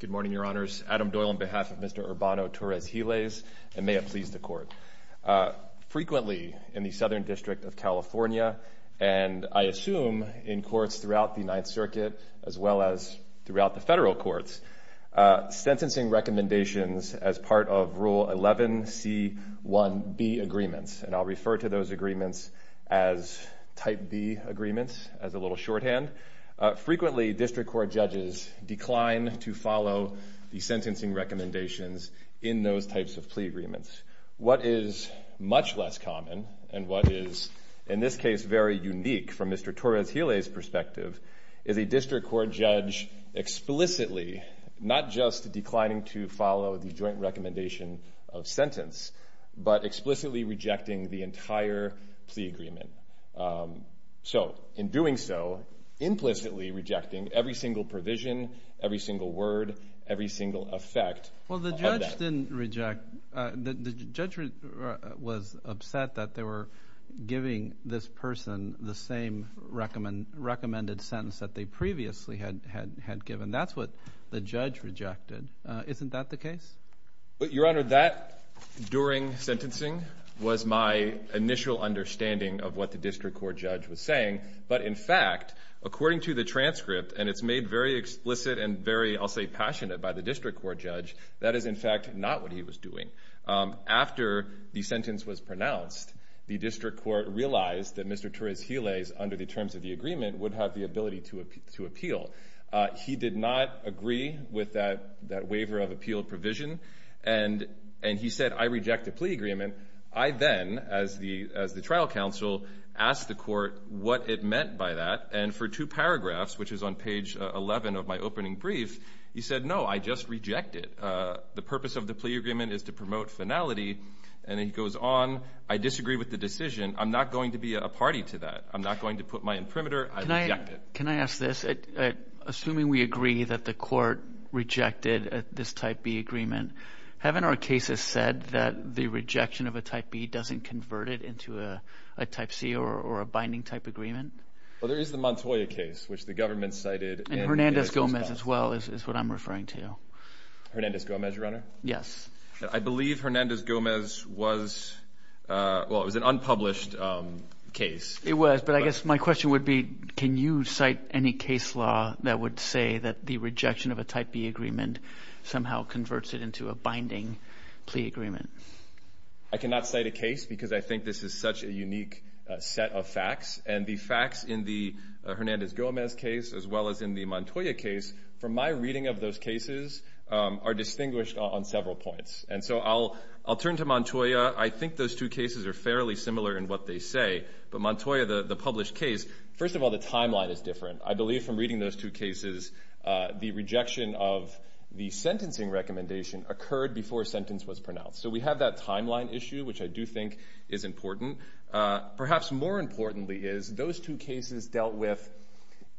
Good morning, Your Honors. Adam Doyle on behalf of Mr. Urbano Torres-Giles, and may it please the Court. Frequently in the Southern District of California, and I assume in courts throughout the Ninth Circuit, as well as throughout the federal courts, sentencing recommendations as part of Rule 11C1B agreements, and I'll refer to those agreements as Type B agreements, as a little shorthand. Frequently, district court judges decline to follow the sentencing recommendations in those types of plea agreements. What is much less common, and what is, in this case, very unique from Mr. Court Judge, explicitly, not just declining to follow the joint recommendation of sentence, but explicitly rejecting the entire plea agreement. So, in doing so, implicitly rejecting every single provision, every single word, every single effect. Well, the judge didn't reject. The judge was upset that they were giving this person the same recommended sentence that they previously had given. That's what the judge rejected. Isn't that the case? Your Honor, that, during sentencing, was my initial understanding of what the district court judge was saying. But, in fact, according to the transcript, and it's made very explicit and very, I'll say, passionate by the district court judge, that is, in fact, not what he was doing. After the sentence was pronounced, the district court realized that Mr. Torres-Gilles, under the terms of the agreement, would have the ability to appeal. He did not agree with that waiver of appeal provision, and he said, I reject the plea agreement. I then, as the trial counsel, asked the court what it meant by that, and for two paragraphs, which is on page 11 of my opening brief, he said, no, I just reject it. The purpose of the plea agreement is to promote finality, and he goes on, I disagree with the decision. I'm not going to be a party to that. I'm not going to put my imprimatur. I reject it. Can I ask this? Assuming we agree that the court rejected this type B agreement, haven't our cases said that the rejection of a type B doesn't convert it into a type C or a binding type agreement? Well, there is the Montoya case, which the government cited. And Hernandez-Gomez, as well, is what I'm referring to. Hernandez-Gomez, Your Honor? Yes. I believe Hernandez-Gomez was, well, it was an unpublished case. It was, but I guess my question would be, can you cite any case law that would say that the rejection of a type B agreement somehow converts it into a binding plea agreement? I cannot cite a case because I think this is such a unique set of facts. And the facts in the Hernandez-Gomez case, as well as in the Montoya case, from my reading of those cases, are distinguished on several points. And so I'll turn to Montoya. I think those two cases are fairly similar in what they say. But Montoya, the published case, first of all, the timeline is different. I believe from reading those two cases, the rejection of the sentencing recommendation occurred before a sentence was pronounced. So we have that timeline issue, which I do think is important. Perhaps more importantly is those two cases dealt with,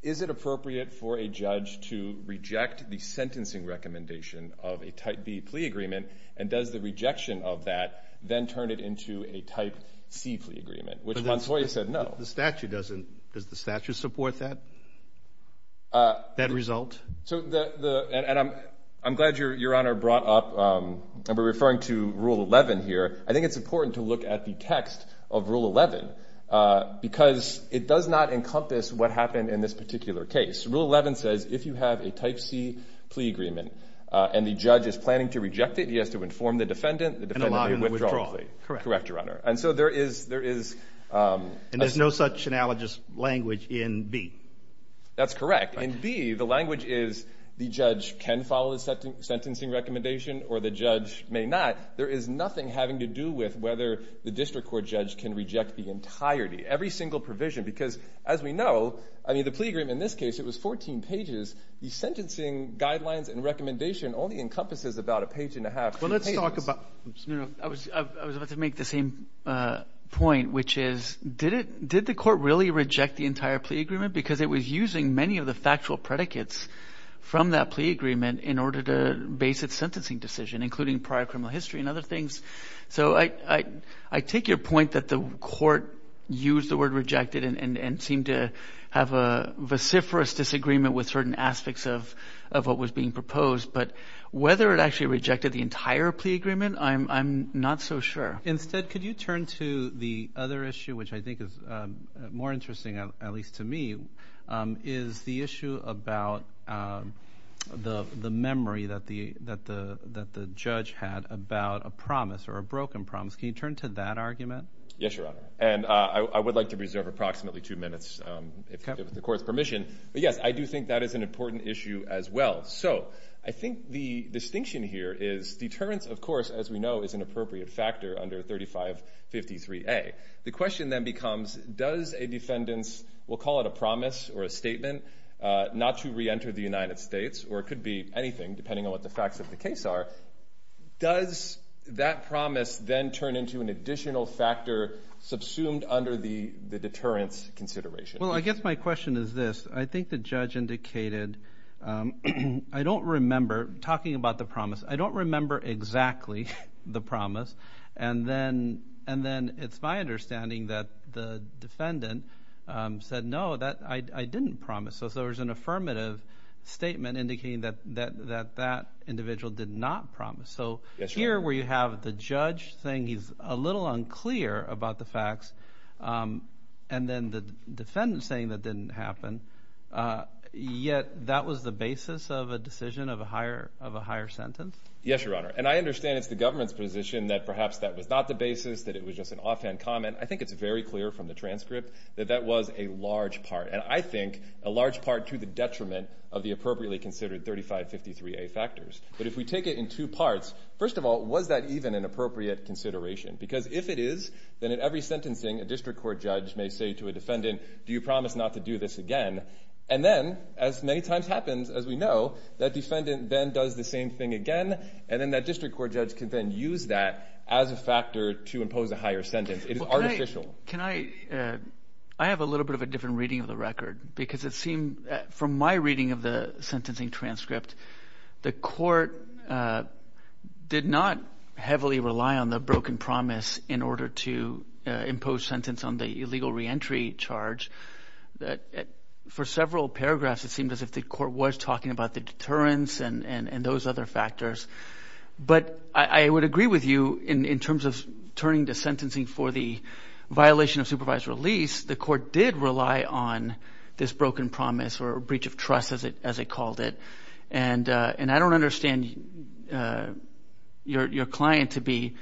is it appropriate for a judge to reject the sentencing recommendation of a type B plea agreement? And does the rejection of that then turn it into a type C plea agreement? Which Montoya said no. The statute doesn't. Does the statute support that result? So I'm glad Your Honor brought up, and we're referring to Rule 11 here. I think it's important to look at the text of Rule 11 because it does not encompass what happened in this particular case. Rule 11 says if you have a type C plea agreement and the judge is planning to reject it, he has to inform the defendant, the defendant withdraws the plea. Correct. Correct, Your Honor. And so there is, there is. And there's no such analogous language in B. That's correct. In B, the language is the judge can follow the sentencing recommendation or the judge may not. There is nothing having to do with whether the district court judge can reject the entirety, every single provision. Because as we know, I mean, the plea agreement in this case, it was 14 pages. The sentencing guidelines and recommendation only encompasses about a page and a half. Well, let's talk about, I was about to make the same point, which is, did the court really reject the entire plea agreement because it was using many of the factual predicates from that plea agreement in order to base its sentencing decision, including prior criminal history and other things? So I take your point that the court used the word rejected and seemed to have a vociferous disagreement with certain aspects of of what was being proposed. But whether it actually rejected the entire plea agreement, I'm not so sure. Instead, could you turn to the other issue, which I think is more interesting, at least to me, is the issue about the memory that the that the that the judge had about a promise or a broken promise. Can you turn to that argument? Yes, Your Honor. And I would like to reserve approximately two minutes if the court's permission. But yes, I do think that is an important issue as well. So I think the distinction here is deterrence, of course, as we know, is an appropriate factor under 3553A. The question then becomes, does a defendant's, we'll call it a promise or a statement, not to reenter the United States or it could be anything, depending on what the facts of the case are, does that promise then turn into an additional factor subsumed under the the deterrence consideration? Well, I guess my question is this. I think the judge indicated I don't remember talking about the promise. I don't remember exactly the promise. And then and then it's my understanding that the defendant said, no, that I didn't promise. So there was an affirmative statement indicating that that that that individual did not promise. So here where you have the judge saying he's a little unclear about the facts and then the defendant saying that didn't happen. Yet that was the basis of a decision of a higher of a higher sentence. Yes, Your Honor. And I understand it's the government's position that perhaps that was not the basis, that it was just an offhand comment. I think it's very clear from the transcript that that was a large part and I think a large part to the detriment of the appropriately considered 3553A factors. But if we take it in two parts, first of all, was that even an appropriate consideration? Because if it is, then in every sentencing, a district court judge may say to a defendant, do you promise not to do this again? And then as many times happens, as we know, that defendant then does the same thing again. And then that district court judge can then use that as a factor to impose a higher sentence. It is artificial. Can I I have a little bit of a different reading of the record because it seemed from my reading of the sentencing transcript, the court did not heavily rely on the broken promise in order to impose sentence on the illegal reentry charge. That for several paragraphs, it seemed as if the court was talking about the deterrence and those other factors. But I would agree with you in terms of turning to sentencing for the violation of supervised release. The court did rely on this broken promise or breach of trust, as it as it called it. And and I don't understand your client to be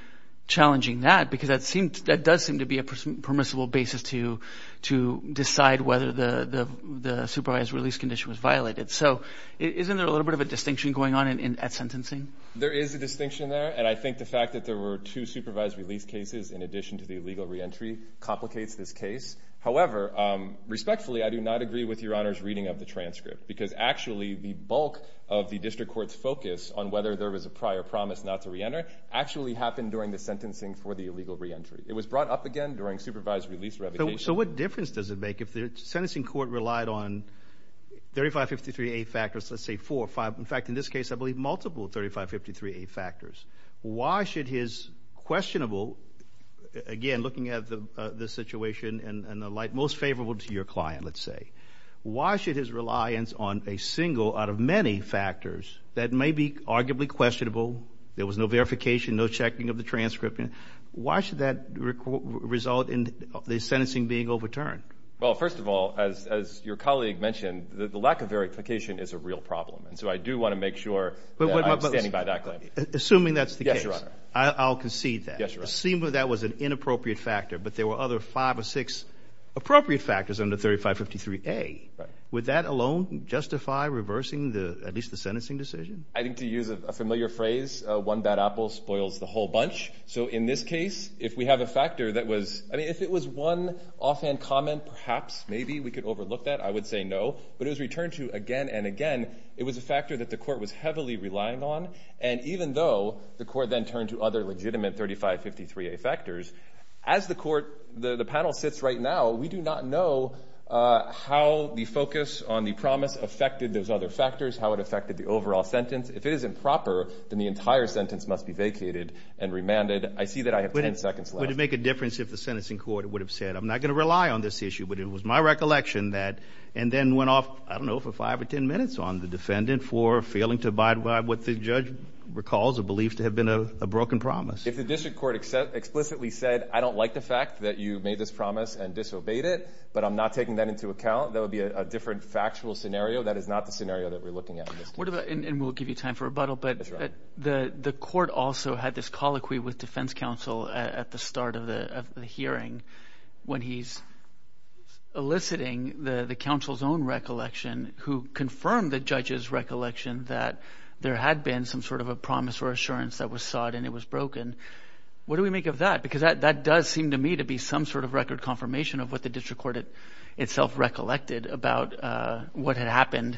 challenging that because that seems that does seem to be a permissible basis to to decide whether the the supervised release condition was violated. So isn't there a little bit of a distinction going on at sentencing? There is a distinction there. And I think the fact that there were two supervised release cases in addition to the illegal reentry complicates this case. However, respectfully, I do not agree with your honor's reading of the transcript, because actually the bulk of the district court's focus on whether there was a prior promise not to reenter actually happened during the sentencing for the illegal reentry. It was brought up again during supervised release. So what difference does it make if the sentencing court relied on thirty five fifty three factors? Let's say four or five. In fact, in this case, I believe multiple thirty five fifty three factors. Why should his questionable again, looking at the situation and the light most favorable to your client, let's say, why should his reliance on a single out of many factors that may be arguably questionable? There was no verification, no checking of the transcript. Why should that result in the sentencing being overturned? Well, first of all, as your colleague mentioned, the lack of verification is a real problem. And so I do want to make sure standing by that claim, assuming that's the case, I'll concede that seem that was an inappropriate factor. But there were other five or six appropriate factors under thirty five fifty three. A with that alone justify reversing the at least the sentencing decision, I think, to use a familiar phrase, one bad apple spoils the whole bunch. So in this case, if we have a factor that was I mean, if it was one offhand comment, perhaps maybe we could overlook that. I would say no. But it was returned to again and again. It was a factor that the court was heavily relying on. And even though the court then turned to other legitimate thirty five fifty three factors as the court, the panel sits right now, we do not know how the focus on the promise affected those other factors, how it affected the overall sentence. If it isn't proper, then the entire sentence must be vacated and remanded. I see that I have ten seconds. Would it make a difference if the sentencing court would have said I'm not going to rely on this issue? But it was my recollection that and then went off, I don't know, for five or ten minutes on the defendant for failing to abide by what the judge recalls or believes to have been a broken promise. If the district court explicitly said I don't like the fact that you made this promise and disobeyed it, but I'm not taking that into account, that would be a different factual scenario. That is not the scenario that we're looking at. And we'll give you time for rebuttal. But the court also had this colloquy with defense counsel at the start of the hearing when he's eliciting the council's own recollection, who confirmed the judge's recollection that there had been some sort of a promise or assurance that was sought and it was broken. And what do we make of that? Because that does seem to me to be some sort of record confirmation of what the district court itself recollected about what had happened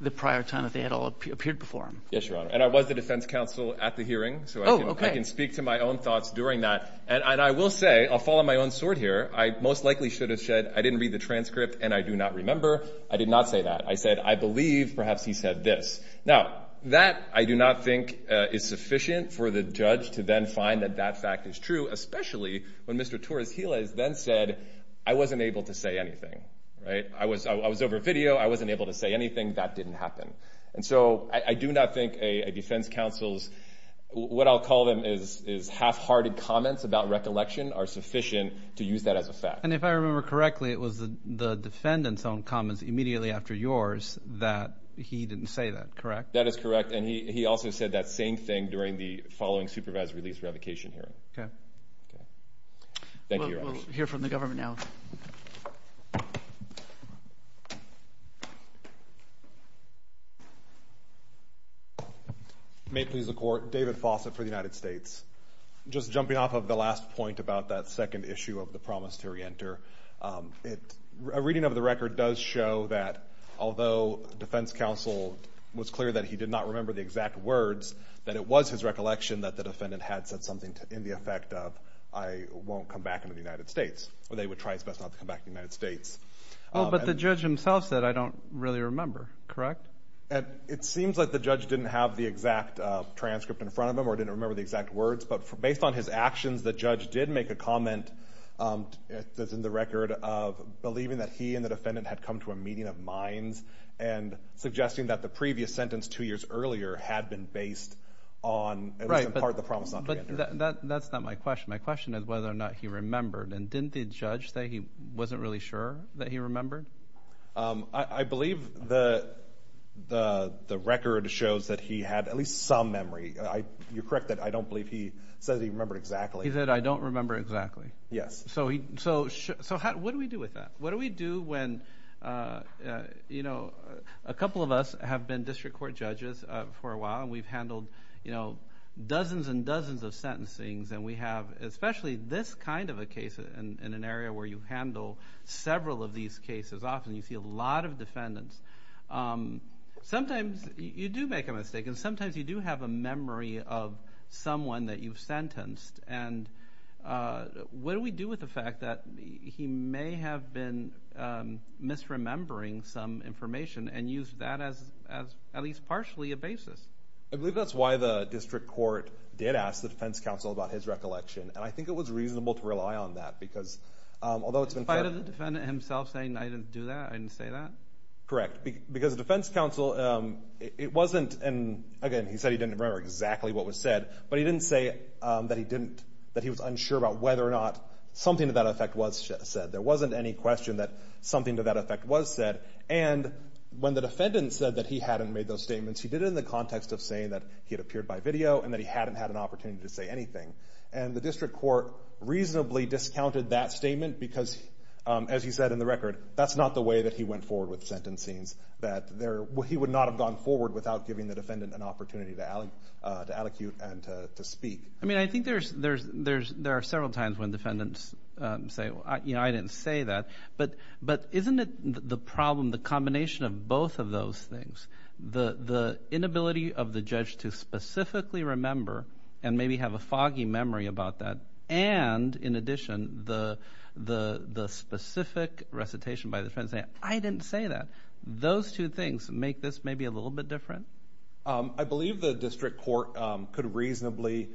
the prior time that they had all appeared before him. Yes, Your Honor. And I was the defense counsel at the hearing. So I can speak to my own thoughts during that. And I will say I'll follow my own sword here. I most likely should have said I didn't read the transcript and I do not remember. I did not say that. I said, I believe perhaps he said this. Now, that I do not think is sufficient for the judge to then find that that fact is true, especially when Mr. Torres-Gilles then said, I wasn't able to say anything, right? I was over video. I wasn't able to say anything. That didn't happen. And so I do not think a defense counsel's, what I'll call them, is half-hearted comments about recollection are sufficient to use that as a fact. And if I remember correctly, it was the defendant's own comments immediately after yours that he didn't say that, correct? That is correct. And he also said that same thing during the following supervised release revocation hearing. Okay. Thank you, Your Honor. We'll hear from the government now. May it please the court, David Fawcett for the United States. Just jumping off of the last point about that second issue of the promise to re-enter, a reading of the record does show that although defense counsel was clear that he did not remember the exact words, that it was his recollection that the defendant had said something in the effect of, I won't come back into the United States, or they would try his best not to come back to the United States. But the judge himself said, I don't really remember, correct? And it seems like the judge didn't have the exact transcript in front of him or didn't remember the exact words. But based on his actions, the judge did make a comment that's in the record of believing that he and the defendant had come to a meeting of minds and suggesting that the previous sentence two years earlier had been based on, at least in part, the promise not to re-enter. But that's not my question. My question is whether or not he remembered. And didn't the judge say he wasn't really sure that he remembered? I believe the record shows that he had at least some memory. You're correct that I don't believe he said he remembered exactly. He said, I don't remember exactly. Yes. So what do we do with that? And a couple of us have been district court judges for a while, and we've handled dozens and dozens of sentencings. And we have, especially this kind of a case in an area where you handle several of these cases often, you see a lot of defendants. Sometimes you do make a mistake. And sometimes you do have a memory of someone that you've sentenced. And what do we do with the fact that he may have been misremembering some information and used that as at least partially a basis? I believe that's why the district court did ask the defense counsel about his recollection. And I think it was reasonable to rely on that, because although it's been clear— In spite of the defendant himself saying I didn't do that, I didn't say that? Correct. Because the defense counsel, it wasn't—and again, he said he didn't remember exactly what was said. But he didn't say that he didn't—that he was unsure about whether or not something to that effect was said. There wasn't any question that something to that effect was said. And when the defendant said that he hadn't made those statements, he did it in the context of saying that he had appeared by video and that he hadn't had an opportunity to say anything. And the district court reasonably discounted that statement because, as he said in the record, that's not the way that he went forward with sentencings. That he would not have gone forward without giving the defendant an opportunity to allocate and to speak. I mean, I think there are several times when defendants say, you know, I didn't say that. But isn't it the problem, the combination of both of those things, the inability of the judge to specifically remember and maybe have a foggy memory about that? And in addition, the specific recitation by the defense saying, I didn't say that. Those two things make this maybe a little bit different? I believe the district court could reasonably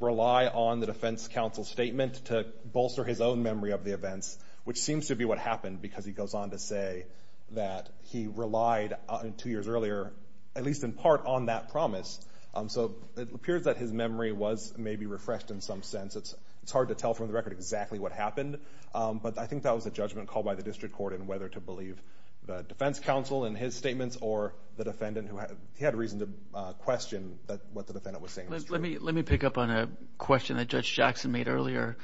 rely on the defense counsel's statement to bolster his own memory of the events, which seems to be what happened because he goes on to say that he relied, two years earlier, at least in part, on that promise. So it appears that his memory was maybe refreshed in some sense. It's hard to tell from the record exactly what happened. But I think that was a judgment called by the district court in whether to believe the defense counsel in his statements or the defendant. He had reason to question what the defendant was saying was true. Let me pick up on a question that Judge Jackson made earlier.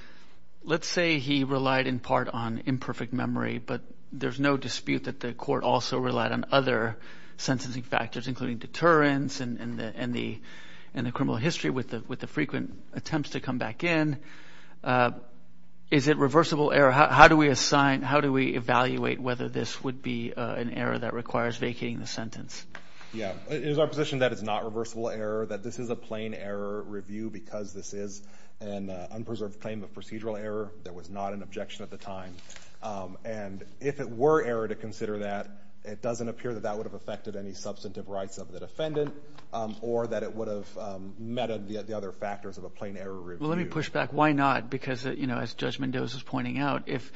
Let's say he relied in part on imperfect memory, but there's no dispute that the court also relied on other sentencing factors, including deterrence and the criminal history with the frequent attempts to come back in. Is it reversible error? How do we assign, how do we evaluate whether this would be an error that requires vacating the sentence? Yeah, it is our position that it's not reversible error, that this is a plain error review because this is an unpreserved claim of procedural error. There was not an objection at the time. And if it were error to consider that, it doesn't appear that that would have affected any substantive rights of the defendant, or that it would have meted the other factors of a plain error review. Well, let me push back. Why not? Because, you know, as Judge Mendoza is pointing out, if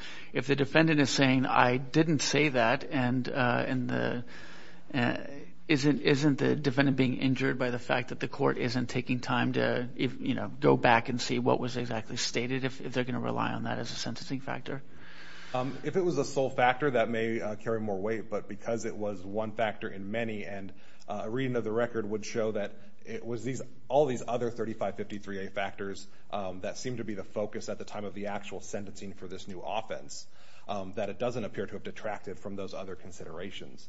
the defendant is saying, I didn't say that, and isn't the defendant being injured by the fact that the court isn't taking time to, you know, go back and see what was exactly stated, if they're going to rely on that as a sentencing factor? If it was a sole factor, that may carry more weight, but because it was one factor in many, and a reading of the record would show that it was all these other 3553A factors that seemed to be the focus at the time of the actual sentencing for this new offense, that it doesn't appear to have detracted from those other considerations.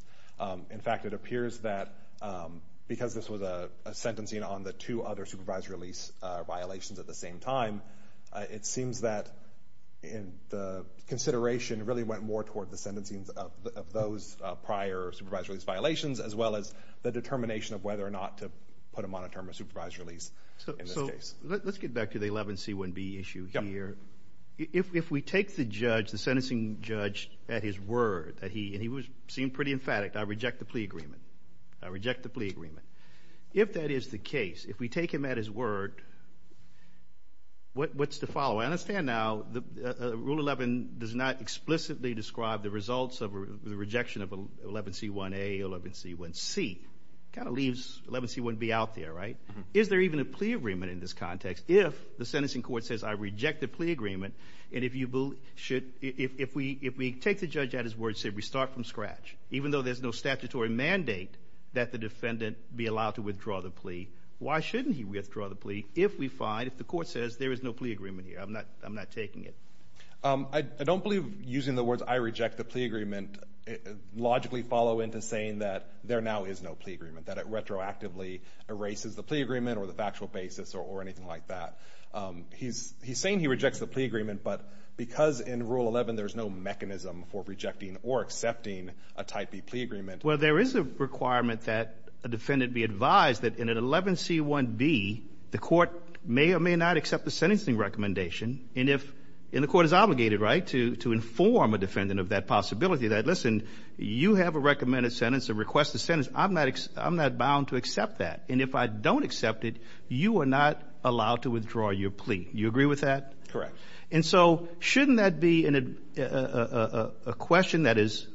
In fact, it appears that because this was a sentencing on the two other supervisory release violations at the same time, it seems that the consideration really went more toward the determination of whether or not to put him on a term of supervised release in this case. Let's get back to the 11C1B issue here. If we take the judge, the sentencing judge, at his word, and he seemed pretty emphatic, I reject the plea agreement. I reject the plea agreement. If that is the case, if we take him at his word, what's the following? I understand now Rule 11 does not explicitly describe the results of the rejection of 11C1A, 11C1C. It kind of leaves 11C1B out there, right? Is there even a plea agreement in this context? If the sentencing court says, I reject the plea agreement, and if we take the judge at his word and say we start from scratch, even though there's no statutory mandate that the defendant be allowed to withdraw the plea, why shouldn't he withdraw the plea if we find, if the court says there is no plea agreement here? I'm not taking it. I don't believe using the words, I reject the plea agreement, logically follow into saying that there now is no plea agreement, that it retroactively erases the plea agreement or the factual basis or anything like that. He's saying he rejects the plea agreement, but because in Rule 11, there's no mechanism for rejecting or accepting a Type B plea agreement. Well, there is a requirement that a defendant be advised that in an 11C1B, the court may or may not accept the sentencing recommendation. And if, and the court is obligated, right, to inform a defendant of that possibility, listen, you have a recommended sentence, a requested sentence, I'm not bound to accept that. And if I don't accept it, you are not allowed to withdraw your plea. You agree with that? Correct. And so shouldn't that be a question that is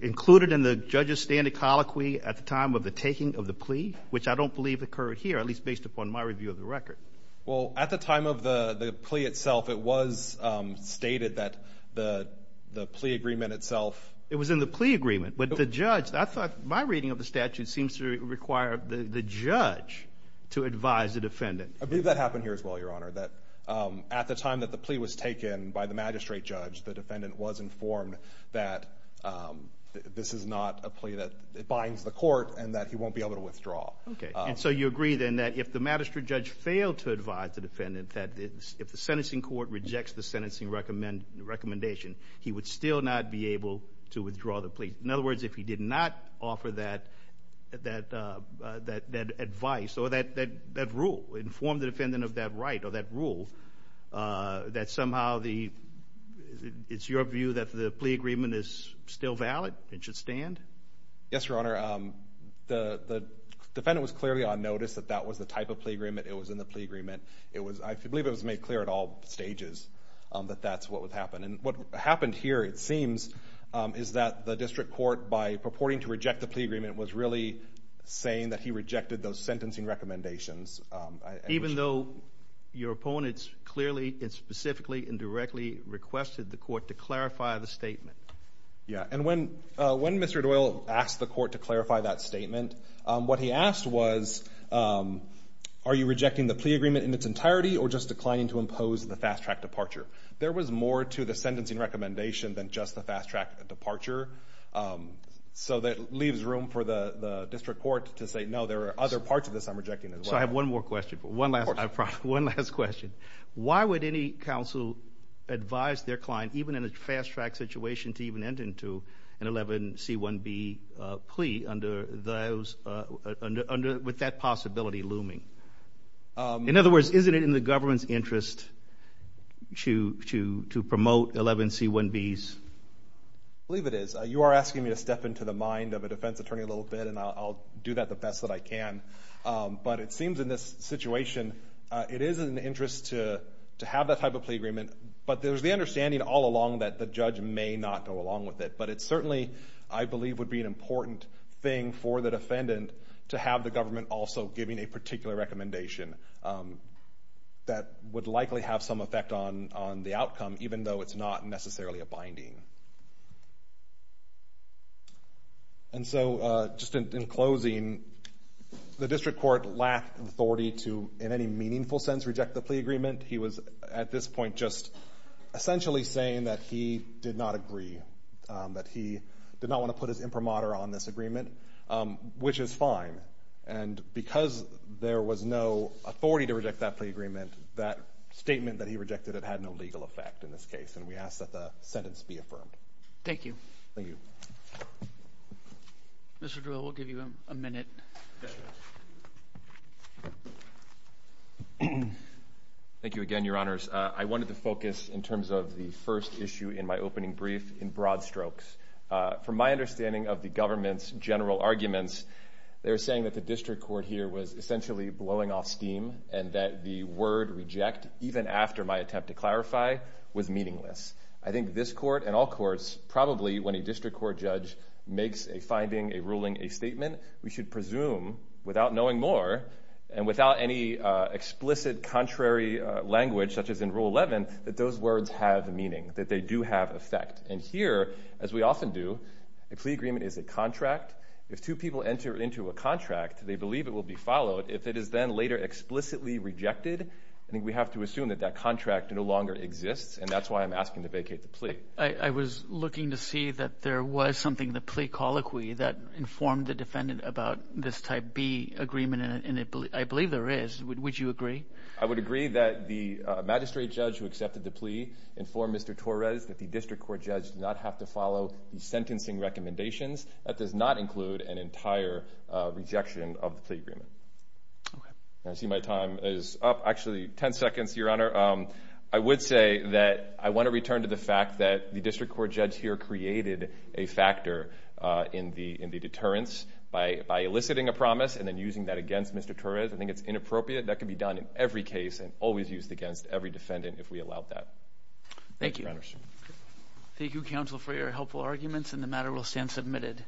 included in the judge's standard colloquy at the time of the taking of the plea, which I don't believe occurred here, at least based upon my review of the record? Well, at the time of the plea itself, it was stated that the plea agreement itself... It was in the plea agreement, but the judge, I thought my reading of the statute seems to require the judge to advise the defendant. I believe that happened here as well, Your Honor, that at the time that the plea was taken by the magistrate judge, the defendant was informed that this is not a plea that binds Okay. And so you agree then that if the magistrate judge failed to advise the defendant, that if the sentencing court rejects the sentencing recommendation, he would still not be able to withdraw the plea. In other words, if he did not offer that advice or that rule, inform the defendant of that right or that rule, that somehow it's your view that the plea agreement is still valid and should stand? Yes, Your Honor. The defendant was clearly on notice that that was the type of plea agreement. It was in the plea agreement. I believe it was made clear at all stages that that's what would happen. And what happened here, it seems, is that the district court, by purporting to reject the plea agreement, was really saying that he rejected those sentencing recommendations. Even though your opponents clearly and specifically and directly requested the court to clarify the statement? Yeah. And when Mr. Doyle asked the court to clarify that statement, what he asked was, are you rejecting the plea agreement in its entirety or just declining to impose the fast-track departure? There was more to the sentencing recommendation than just the fast-track departure. So that leaves room for the district court to say, no, there are other parts of this I'm rejecting as well. So I have one more question. One last question. Why would any counsel advise their client, even in a fast-track situation, to even enter into an 11C1B plea with that possibility looming? In other words, isn't it in the government's interest to promote 11C1Bs? I believe it is. You are asking me to step into the mind of a defense attorney a little bit, and I'll do that the best that I can. But it seems in this situation, it is in the interest to have that type of plea agreement. But there's the understanding all along that the judge may not go along with it. But it certainly, I believe, would be an important thing for the defendant to have the government also giving a particular recommendation that would likely have some effect on the outcome, even though it's not necessarily a binding. And so, just in closing, the district court lacked authority to, in any meaningful sense, reject the plea agreement. He was, at this point, just essentially saying that he did not agree, that he did not want to put his imprimatur on this agreement, which is fine. And because there was no authority to reject that plea agreement, that statement that he rejected, it had no legal effect in this case, and we ask that the sentence be affirmed. Thank you. Thank you. Mr. Drell, we'll give you a minute. Thank you again, Your Honors. I wanted to focus, in terms of the first issue in my opening brief, in broad strokes. From my understanding of the government's general arguments, they were saying that the district court here was essentially blowing off steam, and that the word reject, even after my attempt to clarify, was meaningless. I think this court and all courts, probably, when a district court judge makes a finding, a ruling, a statement, we should presume, without knowing more, and without any explicit contrary language, such as in Rule 11, that those words have meaning, that they do have effect. And here, as we often do, a plea agreement is a contract. If two people enter into a contract, they believe it will be followed. If it is then later explicitly rejected, I think we have to assume that that is the case. I was looking to see that there was something, the plea colloquy, that informed the defendant about this Type B agreement, and I believe there is. Would you agree? I would agree that the magistrate judge who accepted the plea informed Mr. Torres that the district court judge did not have to follow the sentencing recommendations. That does not include an entire rejection of the plea agreement. Okay. I see my time is up. Actually, 10 seconds, Your Honor. I would say that I want to return to the fact that the district court judge here created a factor in the deterrence by eliciting a promise and then using that against Mr. Torres. I think it's inappropriate. That can be done in every case and always used against every defendant, if we allowed that. Thank you, Your Honor. Thank you, counsel, for your helpful arguments, and the matter will stand submitted.